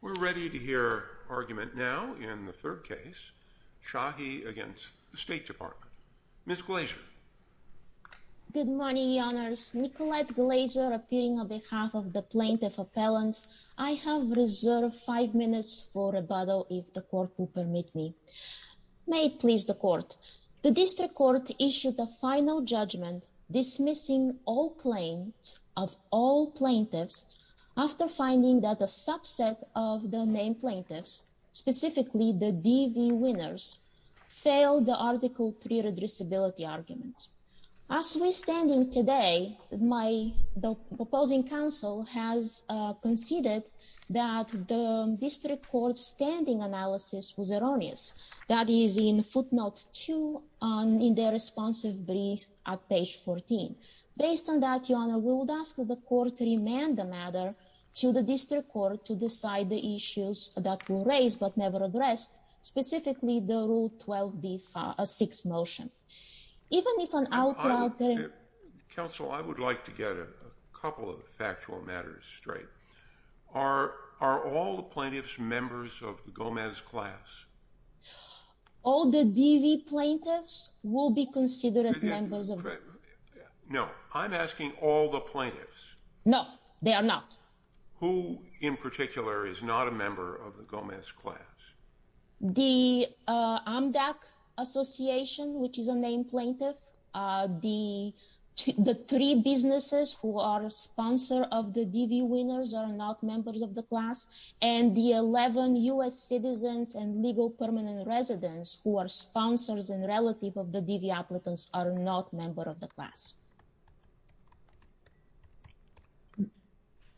We're ready to hear argument now in the third case, Shahi against the State Department. Ms. Glazer. Good morning, Your Honors. Nicolette Glazer appearing on behalf of the plaintiff appellants. I have reserved five minutes for rebuttal, if the court will permit me. May it please the court. The district court issued a final judgment dismissing all claims of all plaintiffs after finding that a subset of the named plaintiffs, specifically the DV winners, failed the article pre-redressability argument. As we're standing today, my opposing counsel has conceded that the district court's standing analysis was erroneous. That is in footnote two in their responsive brief at page 14. Based on that, Your Honor, we would ask the court to remand the matter to the district court to decide the issues that were raised but never addressed, specifically the Rule 12b6 motion. Even if an outlier... Counsel, I would like to get a couple of factual matters straight. Are all the plaintiffs members of the Gomez class? All the DV plaintiffs will be considered members of... No, I'm asking all the plaintiffs. No, they are not. Who in particular is not a member of the Gomez class? The Amdak Association, which is a named plaintiff, the three businesses who are sponsor of the DV winners are not members of the class, and the 11 US citizens and legal permanent residents who are sponsors and relative of the DV applicants are not member of the class.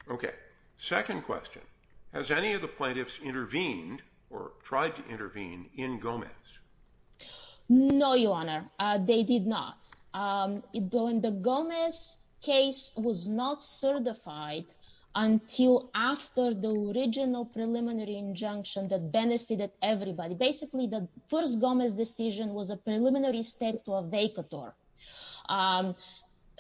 Okay, second question. Has any of the plaintiffs intervened or tried to intervene in Gomez? No, Your Honor, they did not. In the Gomez case was not certified until after the original preliminary injunction that benefited everybody. Basically, the first Gomez decision was a preliminary step to a vacator.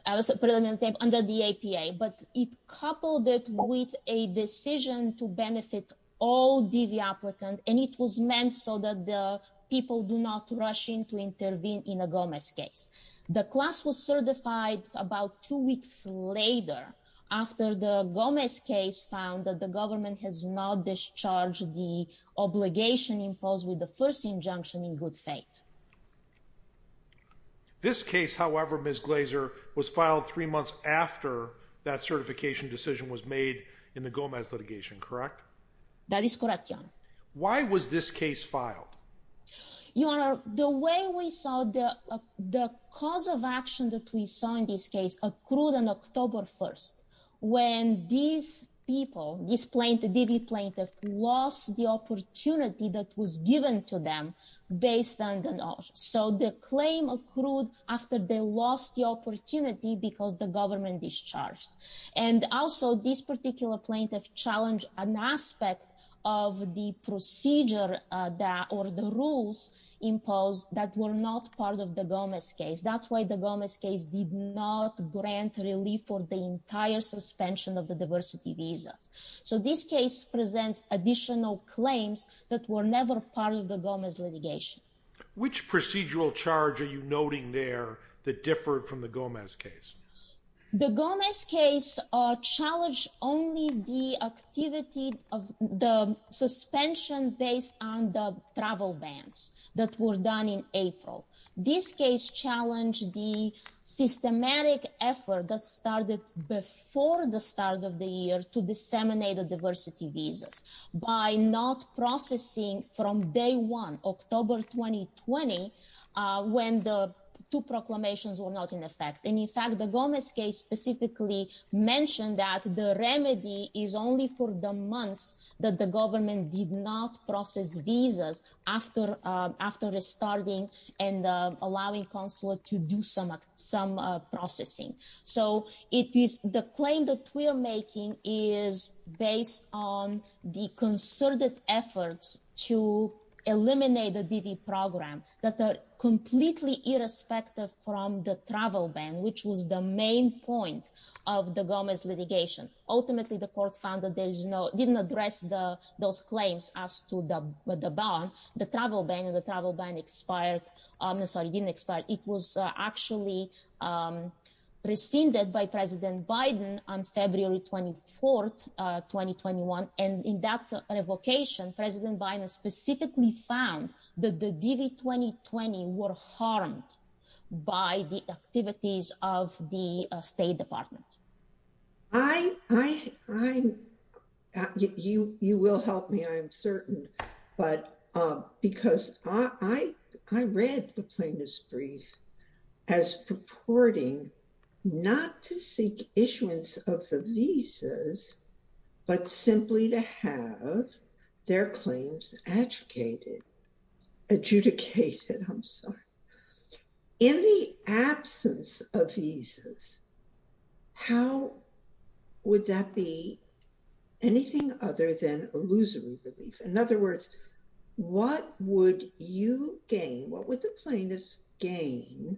I was a preliminary step under the APA, but it coupled it with a decision to benefit all DV applicant, and it was meant so that the people do not rush in to intervene in a Gomez case. The class was certified about two weeks later after the Gomez case found that the government has not discharged the obligation imposed with the first injunction in good faith. This case, however, Ms. Glazer, was filed three months after that certification decision was made in the Gomez litigation, correct? That is correct, Your Honor. Why was this case filed? Your Honor, the way we saw the cause of action that we saw in this case accrued on October 1st, when these people, this DV plaintiff, lost the opportunity that was given to them based on the notion. So the claim accrued after they lost the opportunity because the government discharged. And also, this particular plaintiff challenged an aspect of the procedure or the rules imposed that were not part of the Gomez case. That's why the Gomez case did not grant relief for the entire suspension of the diversity visas. So this case presents additional claims that were never part of the Gomez litigation. Which procedural charge are you noting there that differed from the Gomez case? The Gomez case challenged only the activity of the suspension based on the travel bans that were done in April. This case challenged the systematic effort that started before the start of the year to disseminate the diversity visas by not processing from day one, October 2020, when the two proclamations were not in effect. And in fact, the Gomez case specifically mentioned that the remedy is only for the months that the government did not process visas after restarting and allowing consulate to do some processing. So the claim that we're making is based on the concerted efforts to eliminate the DV program that are completely irrespective from the travel ban, which was the main point of the Gomez litigation. Ultimately, the court found that there is no, didn't address those claims as to the ban, the travel ban and the travel ban expired. Sorry, didn't expire. It was actually rescinded by President Biden on February 24th, 2021. And in that revocation, President Biden specifically found that the DV 2020 were harmed by the activities of the State Department. You will help me, I'm certain. But because I read the plaintiff's brief as purporting not to seek issuance of the visas, but simply to have their claims adjudicated. I'm sorry. In the absence of visas, how would that be anything other than illusory relief? In other words, what would you gain? What would the plaintiffs gain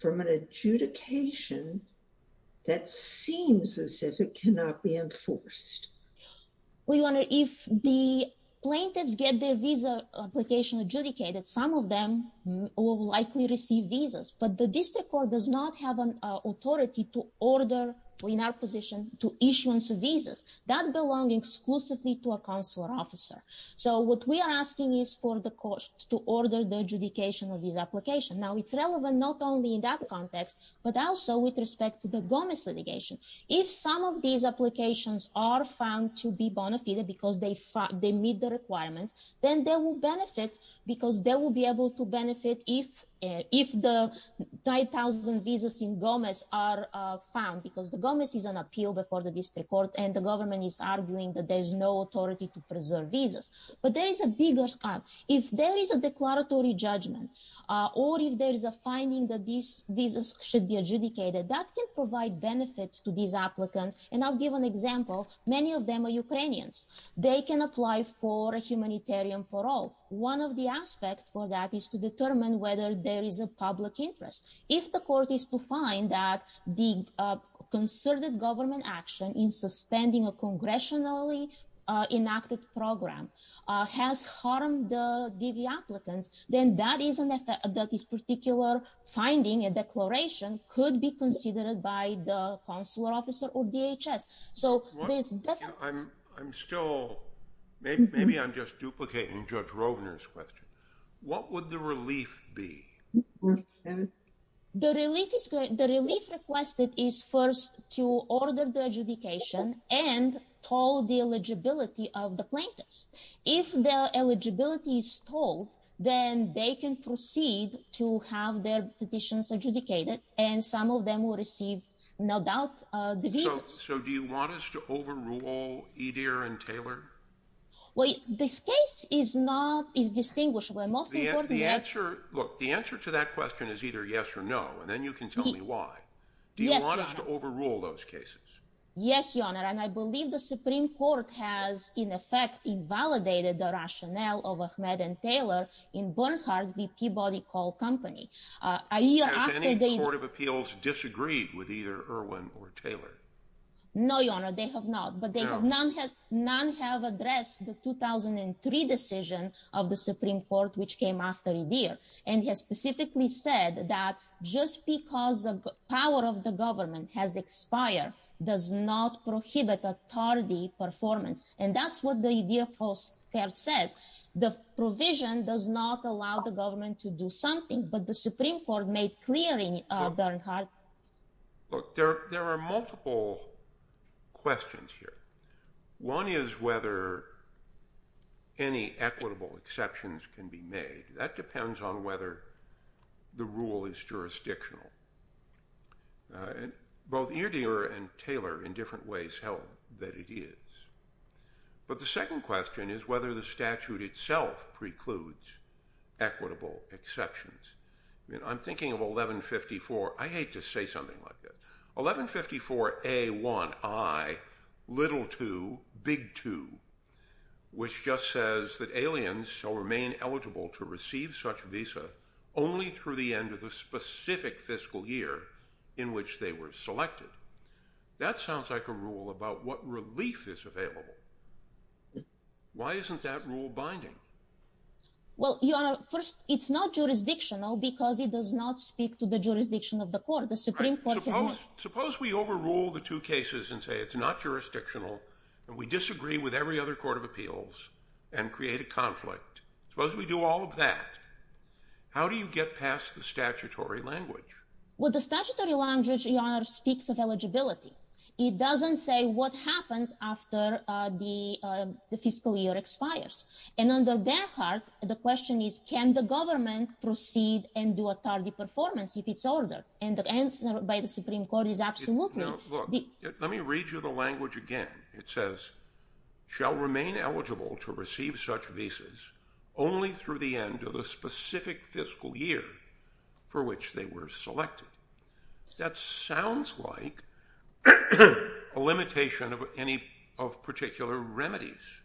from an adjudication that seems as if it cannot be enforced? We wonder if the plaintiffs get their visa application adjudicated, some of them will likely receive visas, but the district court does not have an authority to order in our position to issuance of visas that belong exclusively to a consular officer. So what we are asking is for the courts to order the adjudication of these application. Now it's relevant not only in that context, but also with respect to the Gomez litigation. If some of these applications are found to be bona fide because they meet the requirements, then they will benefit because they will be able to benefit if the 9,000 visas in Gomez are found because the Gomez is an appeal before the district court and the government is arguing that there's no authority to preserve visas. But there is a bigger, if there is a declaratory judgment, or if there is a finding that these visas should be adjudicated, that can provide benefits to these applicants. And I'll give an example, many of them are Ukrainians. They can apply for a humanitarian parole. One of the aspects for that is to determine whether there is a public interest. If the court is to find that the concerted government action in suspending a congressionally enacted program has harmed the DV applicants, then that is an effect that this particular finding, a declaration, could be considered by the consular officer or DHS. So there's definitely- I'm still, maybe I'm just duplicating Judge Rovner's question. What would the relief be? The relief requested is first to order the adjudication and told the eligibility of the plaintiffs. If the eligibility is told, then they can proceed to have their petitions adjudicated. And some of them will receive, no doubt, the visas. So do you want us to overrule Edir and Taylor? Well, this case is not, is distinguishable. The most important- The answer, look, the answer to that question is either yes or no, and then you can tell me why. Do you want us to overrule those cases? Yes, Your Honor. And I believe the Supreme Court has, in effect, invalidated the rationale of Ahmed and Taylor in Bernhardt v. Peabody Call Company. A year after they- Has any court of appeals disagreed with either Erwin or Taylor? No, Your Honor, they have not. But they have not had, none have addressed the 2003 decision of the Supreme Court, which came after Edir. And he has specifically said that just because the power of the government has expired does not prohibit a tardy performance. And that's what the Edir Postcard says. The provision does not allow the government to do something, but the Supreme Court made clear in Bernhardt- Look, there are multiple questions here. One is whether any equitable exceptions can be made. That depends on whether the rule is jurisdictional. Both Edir and Taylor, in different ways, held that it is. But the second question is whether the statute itself precludes equitable exceptions. I mean, I'm thinking of 1154. I hate to say something like that. 1154A1I, little two, big two, which just says that aliens shall remain eligible to receive such visa only through the end of the specific fiscal year in which they were selected. That sounds like a rule about what relief is available. Why isn't that rule binding? Well, Your Honor, first, it's not jurisdictional because it does not speak to the jurisdiction of the court. The Supreme Court has- Suppose we overrule the two cases and say it's not jurisdictional, and we disagree with every other court of appeals and create a conflict. Suppose we do all of that. How do you get past the statutory language? Well, the statutory language, Your Honor, speaks of eligibility. It doesn't say what happens after the fiscal year expires. And under Bernhardt, the question is, can the government proceed and do a target performance if it's ordered? And the answer by the Supreme Court is absolutely- Now, look, let me read you the language again. It says, shall remain eligible to receive such visas only through the end of the specific fiscal year for which they were selected. That sounds like a limitation of particular remedies.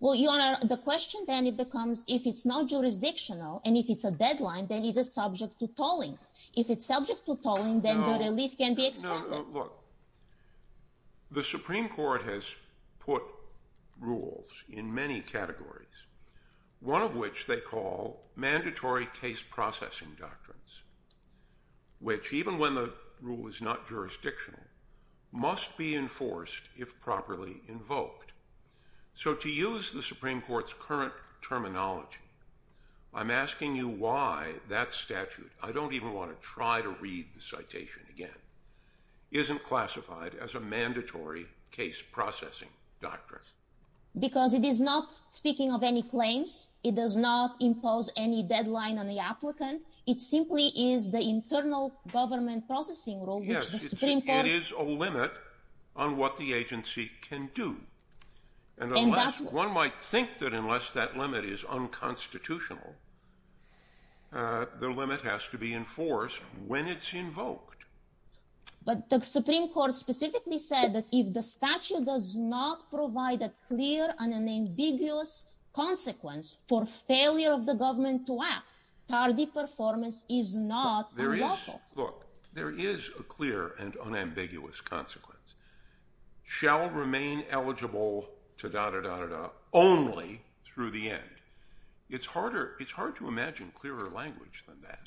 Well, Your Honor, the question then becomes if it's not jurisdictional and if it's a deadline, then it's a subject to tolling. If it's subject to tolling, then the relief can be extended. No, look, the Supreme Court has put rules in many categories, one of which they call mandatory case processing doctrines, which even when the rule is not jurisdictional, must be enforced if properly invoked. So to use the Supreme Court's current terminology, I'm asking you why that statute, I don't even want to try to read the citation again, isn't classified as a mandatory case processing doctrine. Because it is not speaking of any claims. It does not impose any deadline on the applicant. It simply is the internal government processing rule, which the Supreme Court- Yes, it is a limit on what the agency can do. And one might think that unless that limit is unconstitutional, the limit has to be enforced when it's invoked. But the Supreme Court specifically said that if the statute does not provide a clear and an ambiguous consequence for failure of the government to act, tardy performance is not unlawful. Look, there is a clear and unambiguous consequence. Shall remain eligible to da-da-da-da-da only through the end. It's hard to imagine clearer language than that.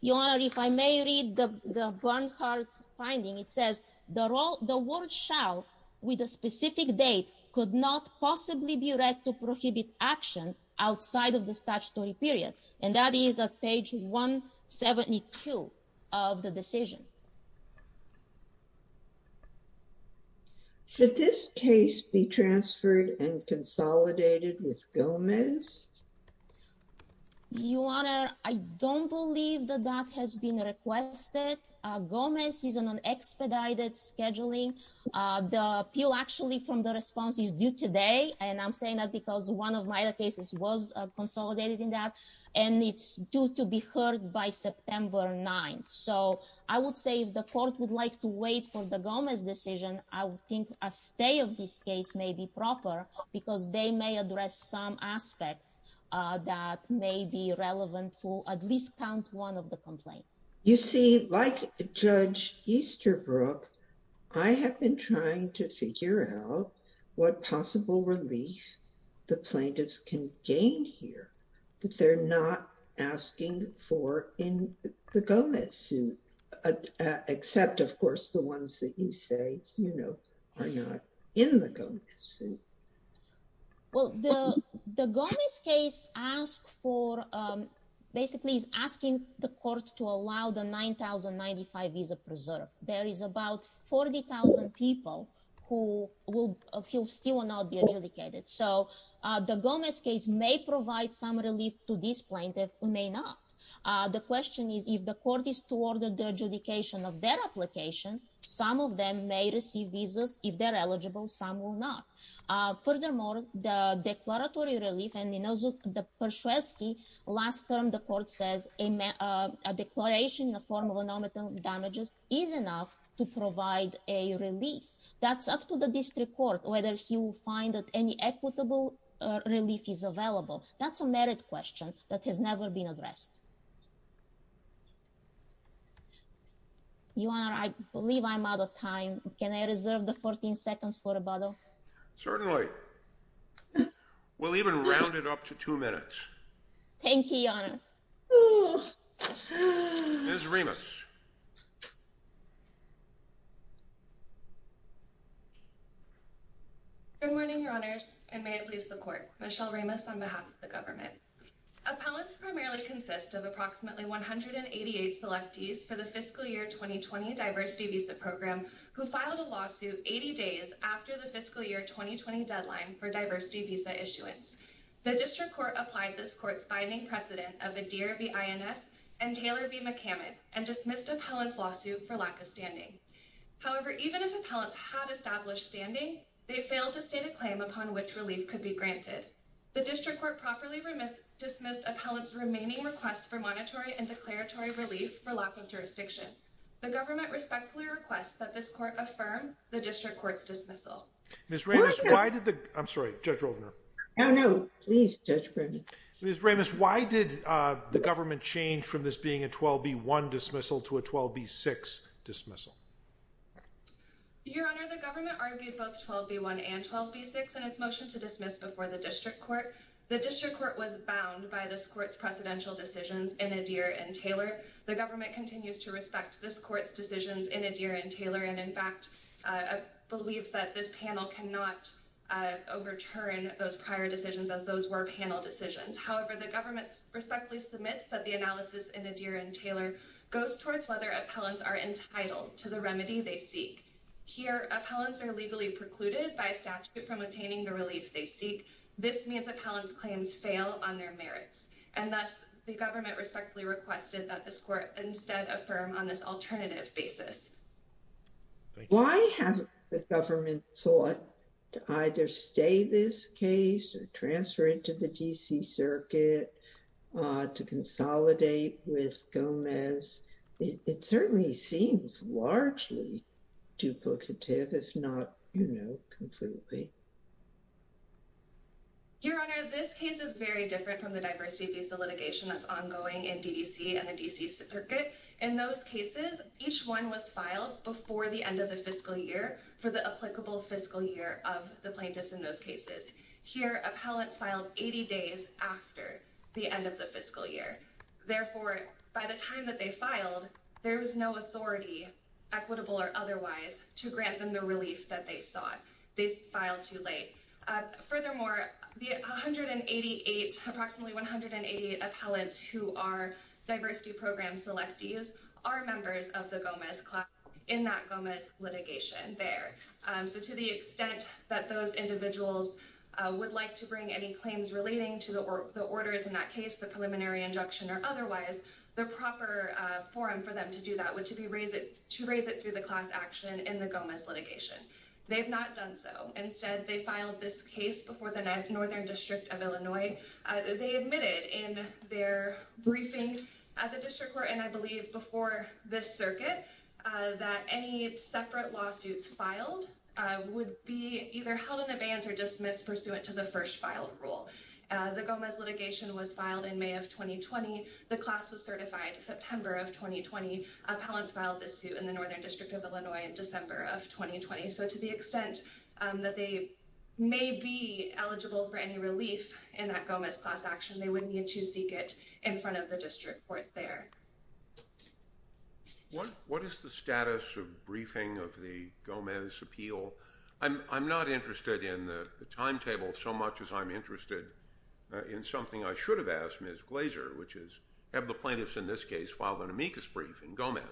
Your Honor, if I may read the Bernhardt finding, it says the word shall with a specific date could not possibly be read to prohibit action outside of the statutory period. And that is at page 172 of the decision. Should this case be transferred and consolidated with Gomez? Your Honor, I don't believe that that has been requested. Gomez is on an expedited scheduling. The appeal actually from the response is due today. And I'm saying that because one of my other cases was consolidated in that. And it's due to be heard by September 9th. So I would say if the court would like to wait for the Gomez decision, I would think a stay of this case may be proper because they may address some aspects that may be relevant to at least count one of the complaints. You see, like Judge Easterbrook, I have been trying to figure out what possible relief the plaintiffs can gain here that they're not asking for in the Gomez suit, except of course, the ones that you say are not in the suit. Well, the Gomez case ask for, basically is asking the court to allow the 9,095 visa preserve. There is about 40,000 people who will still not be adjudicated. So the Gomez case may provide some relief to this plaintiff, it may not. The question is if the court is to order the adjudication of their application, some of them may receive visas, if they're eligible, some will not. Furthermore, the declaratory relief and in those of the Przewalski, last term the court says a declaration in the form of a nominal damages is enough to provide a relief. That's up to the district court, whether he will find that any equitable relief is available. That's a merit question that has never been addressed. Your Honor, I believe I'm out of time. Can I reserve the 14 seconds for a bottle? Certainly. We'll even round it up to two minutes. Thank you, Your Honor. Ms. Ramos. Good morning, Your Honors, and may it please the court. Michelle Ramos on behalf of the government. Appellants primarily consist of approximately 188 selectees for the fiscal year 2020 diversity visa program who filed a lawsuit 80 days after the fiscal year 2020 deadline for diversity visa issuance. The district court applied this court's binding precedent of Adair v. INS and Taylor v. McCammon and dismissed appellant's lawsuit for lack of standing. However, even if appellants had established standing, they failed to state a claim upon which relief could be granted. The district court properly dismissed appellant's remaining requests for monetary and declaratory relief for lack of jurisdiction. The government respectfully requests that this court affirm the district court's dismissal. Ms. Ramos, why did the... I'm sorry, Judge Rovner. No, no, please, Judge Berman. Ms. Ramos, why did the government change from this being a 12B1 dismissal to a 12B6 dismissal? Your Honor, the government argued both 12B1 and 12B6 in its motion to dismiss before the district court. The district court was bound by this court's precedential decisions in Adair and Taylor. The government continues to respect this court's decisions in Adair and Taylor, and in fact, believes that this panel cannot overturn those prior decisions as those were panel decisions. However, the government respectfully submits that the analysis in Adair and Taylor goes towards whether appellants are entitled to the remedy they seek. Here, appellants are legally precluded by a statute from obtaining the relief they seek. This means that appellants' claims fail on their merits. And thus, the government respectfully requested that this court instead affirm on this alternative basis. Why haven't the government sought to either stay this case or transfer it to the D.C. Circuit to consolidate with Gomez? It certainly seems largely duplicative, just not completely. Your Honor, this case is very different from the diversity-based litigation that's ongoing in D.C. and the D.C. Circuit. In those cases, each one was filed before the end of the fiscal year for the applicable fiscal year of the plaintiffs in those cases. Here, appellants filed 80 days after the end of the fiscal year. Therefore, by the time that they filed, there was no authority, equitable or otherwise, to grant them the relief that they sought. They filed too late. Furthermore, the 188, approximately 188 appellants who are diversity program selectees are members of the Gomez class in that Gomez litigation there. So to the extent that those individuals would like to bring any claims relating to the orders in that case, the preliminary injunction or otherwise, the proper forum for them to do that to raise it through the class action in the Gomez litigation. They've not done so. Instead, they filed this case before the Northern District of Illinois. They admitted in their briefing at the district court, and I believe before this circuit, that any separate lawsuits filed would be either held in advance or dismissed pursuant to the first filed rule. The Gomez litigation was filed in May of 2020. The class was certified September of 2020. Appellants filed this suit in the Northern District of Illinois in December of 2020. So to the extent that they may be eligible for any relief in that Gomez class action, they wouldn't need to seek it in front of the district court there. What is the status of briefing of the Gomez appeal? I'm not interested in the timetable so much as I'm interested in something I should have asked Ms. Glazer, which is have the plaintiffs in this case filed an amicus brief in Gomez?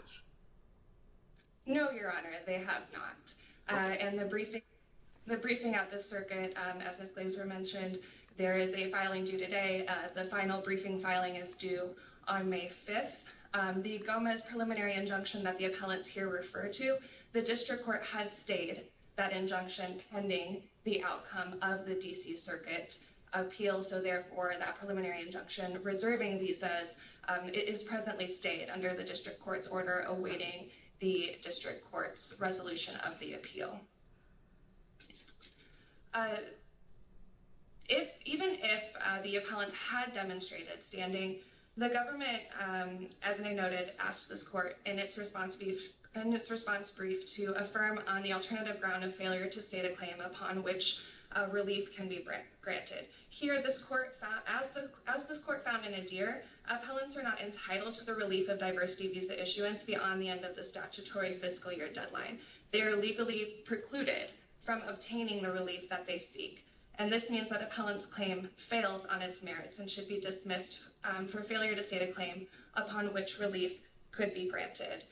No, Your Honor, they have not. And the briefing at the circuit, as Ms. Glazer mentioned, there is a filing due today. The final briefing filing is due on May 5th. The Gomez preliminary injunction that the appellants here refer to, the district court has stayed that injunction pending the outcome of the D.C. Circuit appeal. So therefore, that preliminary injunction reserving visas is presently stayed under the district court's order awaiting the district court's resolution of the appeal. Even if the appellants had demonstrated standing, the government, as I noted, asked this court in its response brief to affirm on the alternative ground of failure to state a claim upon which relief can be granted. Here, as this court found in Adair, appellants are not entitled to the relief of diversity visa issuance beyond the end of the statutory fiscal year deadline. They are legally precluded from obtaining the relief that they seek. And this means that appellant's claim fails on its merits and should be dismissed for failure to state a claim upon which relief could be granted.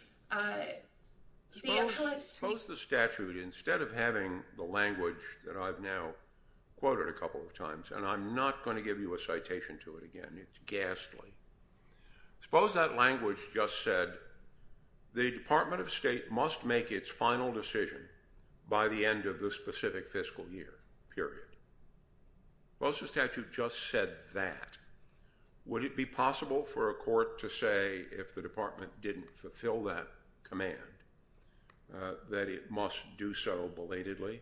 Suppose the statute, instead of having the language that I've now quoted a couple of times, and I'm not gonna give you a citation to it again, it's ghastly, suppose that language just said the Department of State must make its final decision by the end of the specific fiscal year, period. Suppose the statute just said that. Would it be possible for a court to say if the department didn't fulfill that command that it must do so belatedly?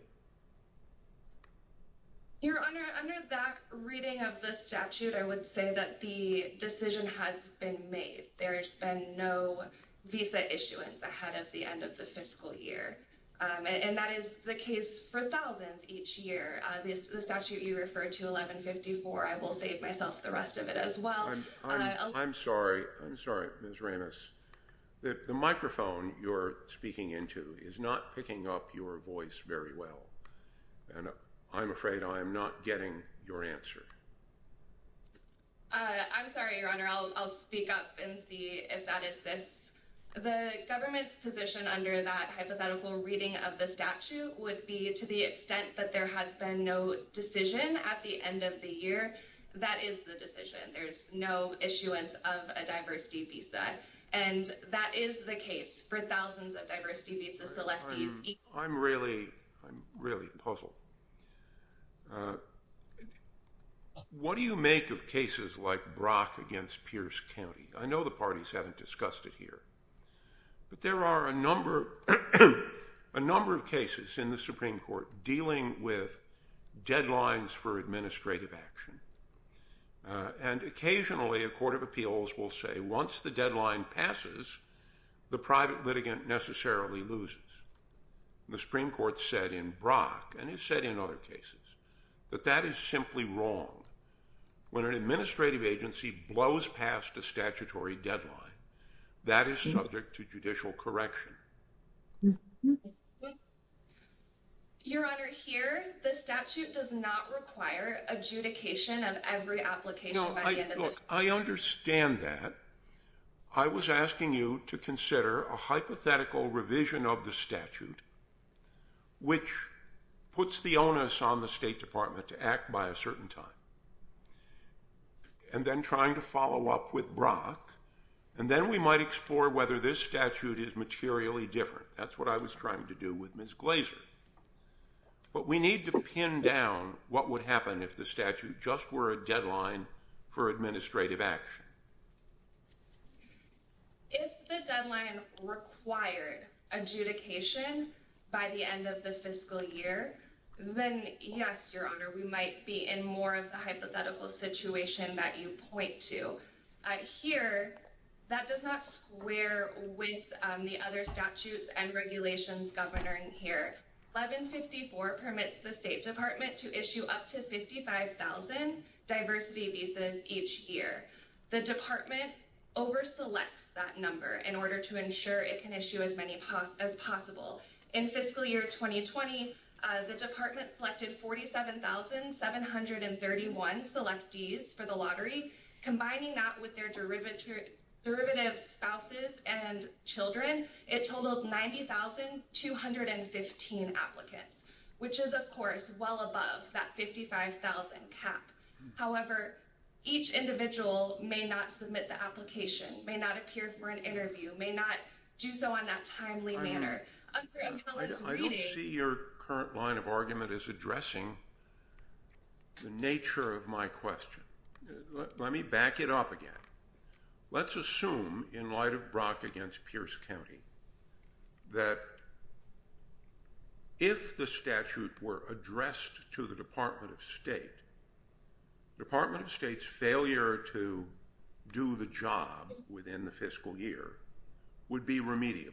Your Honor, under that reading of the statute, I would say that the decision has been made. There's been no visa issuance ahead of the end of the fiscal year. And that is the case for thousands each year. The statute you referred to, 1154, I will save myself the rest of it as well. I'm sorry, I'm sorry, Ms. Ramos. The microphone you're speaking into is not picking up your voice very well. I'm afraid I'm not getting your answer. I'm sorry, Your Honor, I'll speak up and see if that assists. The government's position under that hypothetical reading of the statute would be to the extent that there has been no decision at the end of the year, that is the decision. There's no issuance of a diversity visa. And that is the case for thousands of diversity visa selectees each year. I'm really, I'm really puzzled. What do you make of cases like Brock against Pierce County? I know the parties haven't discussed it here. But there are a number of cases in the Supreme Court dealing with deadlines for administrative action. And occasionally a court of appeals will say once the deadline passes, the private litigant necessarily loses. The Supreme Court said in Brock, and it said in other cases, that that is simply wrong. When an administrative agency blows past a statutory deadline, that is subject to judicial correction. Your Honor, here, the statute does not require adjudication of every application by the end of the year. I understand that. I was asking you to consider a hypothetical revision of the statute, which puts the onus on the State Department to act by a certain time. And then trying to follow up with Brock, and then we might explore whether this statute is materially different. That's what I was trying to do with Ms. Glazer. But we need to pin down what would happen if the statute just were a deadline for administrative action. Your Honor, if the deadline required adjudication by the end of the fiscal year, then yes, Your Honor, we might be in more of the hypothetical situation that you point to. Here, that does not square with the other statutes and regulations governing here. 1154 permits the State Department to issue up to 55,000 diversity visas each year. The department over-selects that number in order to ensure it can issue as many as possible. In fiscal year 2020, the department selected 47,731 selectees for the lottery. Combining that with their derivative spouses and children, it totaled 90,215 applicants, which is, of course, well above that 55,000 cap. However, each individual may not submit the application, may not appear for an interview, may not do so on that timely manner. Under a college meeting- I don't see your current line of argument as addressing the nature of my question. Let me back it up again. Let's assume, in light of Brock against Pierce County, that if the statute were addressed to the Department of State, Department of State's failure to do the job within the fiscal year would be remediable.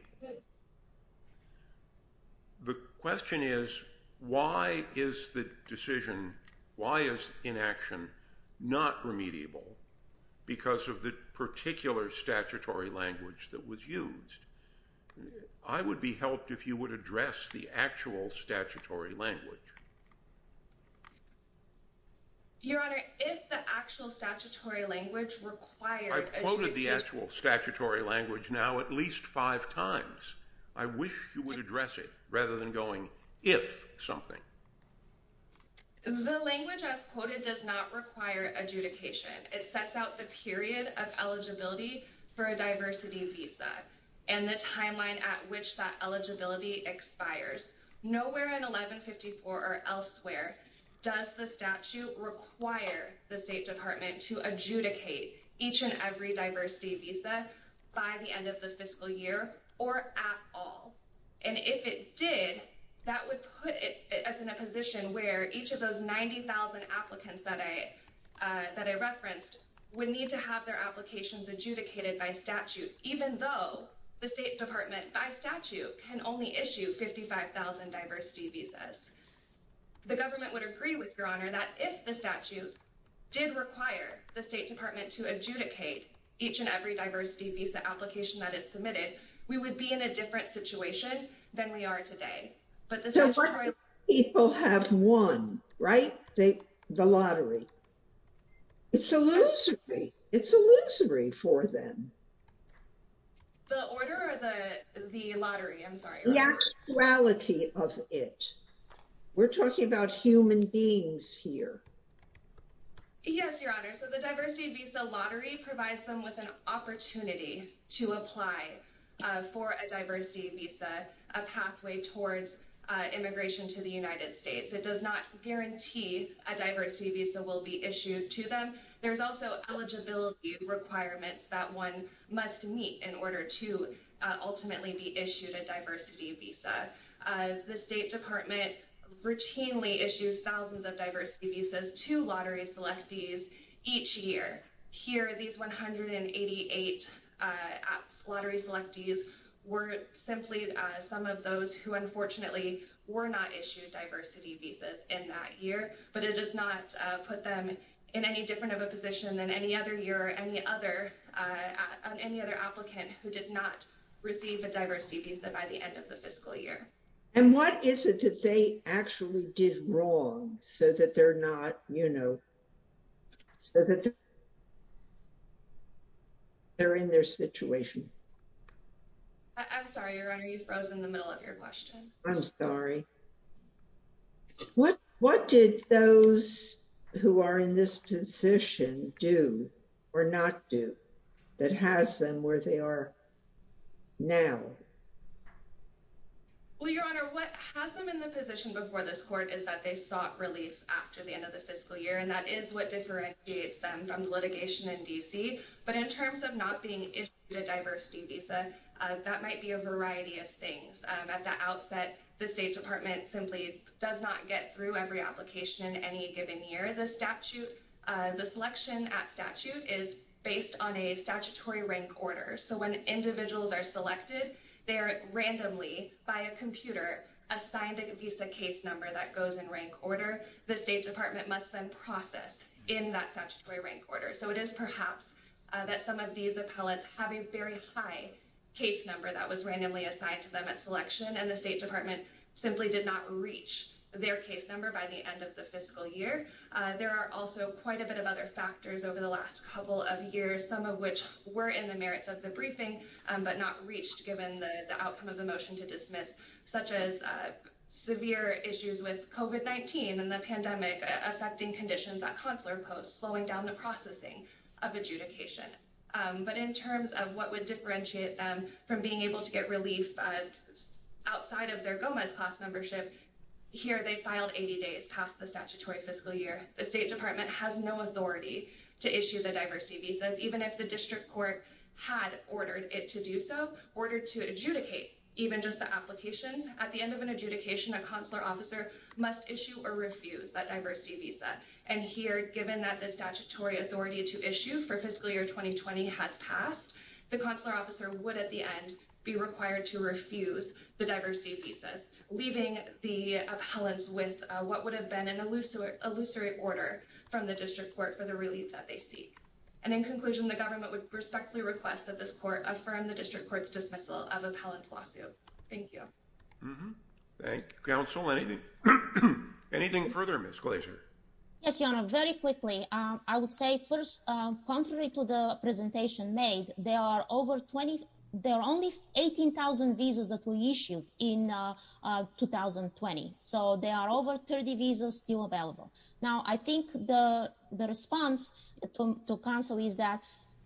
The question is, why is the decision, why is inaction not remediable because of the particular statutory language that was used? I would be helped if you would address the actual statutory language. Your Honor, if the actual statutory language required- I quoted the actual statutory language now at least five times. I wish you would address it rather than going if something. The language as quoted does not require adjudication. It sets out the period of eligibility for a diversity visa and the timeline at which that eligibility expires. Nowhere in 1154 or elsewhere does the statute require the State Department to adjudicate each and every diversity visa by the end of the fiscal year or at all. And if it did, that would put us in a position where each of those 90,000 applicants that I referenced would need to have their applications adjudicated by statute even though the State Department by statute can only issue 55,000 diversity visas. The government would agree with Your Honor that if the statute did require the State Department to adjudicate each and every diversity visa application that is submitted, we would be in a different situation than we are today. But the- People have won, right? The lottery. It's illusory. It's illusory for them. The order or the lottery? I'm sorry. The actuality of it. We're talking about human beings here. Yes, Your Honor. So the diversity visa lottery provides them with an opportunity to apply for a diversity visa, a pathway towards immigration to the United States. It does not guarantee a diversity visa will be issued to them. There's also eligibility requirements that one must meet in order to ultimately be issued a diversity visa. The State Department routinely issues thousands of diversity visas to lottery selectees each year. Here, these 188 lottery selectees were simply some of those who unfortunately were not issued diversity visas in that year, but it does not put them in any different of a position than any other year or any other applicant who did not receive a diversity visa by the end of the fiscal year. And what is it that they actually did wrong so that they're not, you know, so that they're in their situation? I'm sorry, Your Honor. You froze in the middle of your question. I'm sorry. What did those who are in this position do or not do that has them where they are now? Well, Your Honor, what has them in the position before this court is that they sought relief after the end of the fiscal year, and that is what differentiates them from litigation in DC. But in terms of not being issued a diversity visa, that might be a variety of things. At the outset, the State Department simply does not get through every application in any given year. The statute, the selection at statute is based on a statutory rank order. So when individuals are selected, they are randomly by a computer assigned a visa case number that goes in rank order. The State Department must then process in that statutory rank order. So it is perhaps that some of these appellants have a very high case number that was randomly assigned to them at selection, and the State Department simply did not reach their case number by the end of the fiscal year. There are also quite a bit of other factors over the last couple of years, some of which were in the merits of the briefing, but not reached given the outcome of the motion to dismiss, such as severe issues with COVID-19 and the pandemic affecting conditions at consular posts, slowing down the processing of adjudication. But in terms of what would differentiate them from being able to get relief outside of their Gomez class membership, here they filed 80 days past the statutory fiscal year. The State Department has no authority to issue the diversity visas, even if the district court had ordered it to do so, ordered to adjudicate even just the applications. At the end of an adjudication, a consular officer must issue or refuse that diversity visa. And here, given that the statutory authority to issue for fiscal year 2020 has passed, the consular officer would at the end be required to refuse the diversity visas, leaving the appellants with what would have been an illusory order from the district court for the relief that they seek. And in conclusion, the government would respectfully request that this court affirm the district court's dismissal of appellant's lawsuit. Thank you. Thank you, counsel. Anything further, Ms. Glazer? Yes, Your Honor, very quickly. I would say first, contrary to the presentation made, there are only 18,000 visas that were issued in 2020. So there are over 30 visas still available. Now, I think the response to counsel is that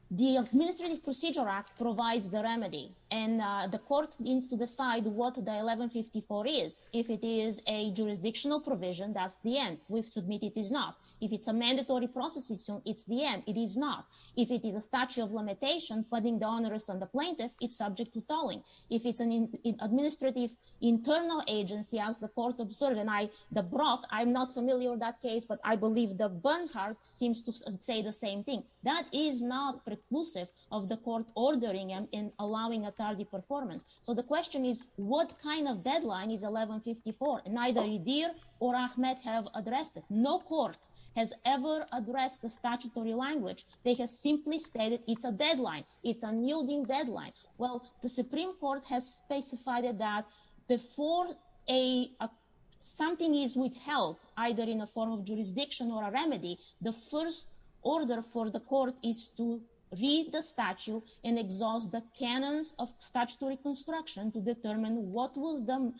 the Administrative Procedure Act provides the remedy, and the court needs to decide what the 1154 is. If it is a jurisdictional provision, that's the end. We've submitted it is not. If it's a mandatory process issue, it's the end. It is not. If it is a statute of limitation, putting the onerous on the plaintiff, it's subject to tolling. If it's an administrative internal agency, as the court observed, and the Brock, I'm not familiar with that case, but I believe the Bernhardt seems to say the same thing. That is not preclusive of the court ordering and allowing a tardy performance. So the question is, what kind of deadline is 1154? Neither Edir or Ahmed have addressed it. No court has ever addressed the statutory language. They have simply stated it's a deadline. It's a nuding deadline. Well, the Supreme Court has specified that before something is withheld, either in a form of jurisdiction or a remedy, the first order for the court is to read the statute and exhaust the canons of statutory construction to determine what was the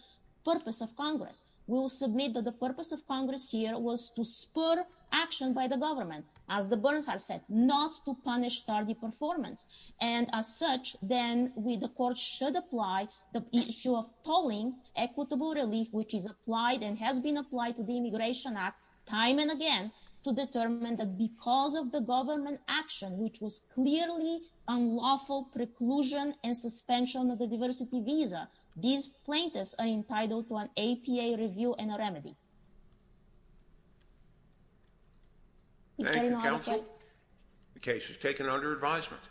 purpose of Congress. We will submit that the purpose of Congress here was to spur action by the government. As the Bernhardt said, not to punish tardy performance. And as such, then the court should apply the issue of tolling equitable relief, which is applied and has been applied to the Immigration Act time and again to determine that because of the government action, which was clearly unlawful preclusion and suspension of the diversity visa, these plaintiffs are entitled to an APA review and a remedy. Thank you, Counsel. The case is taken under advisement.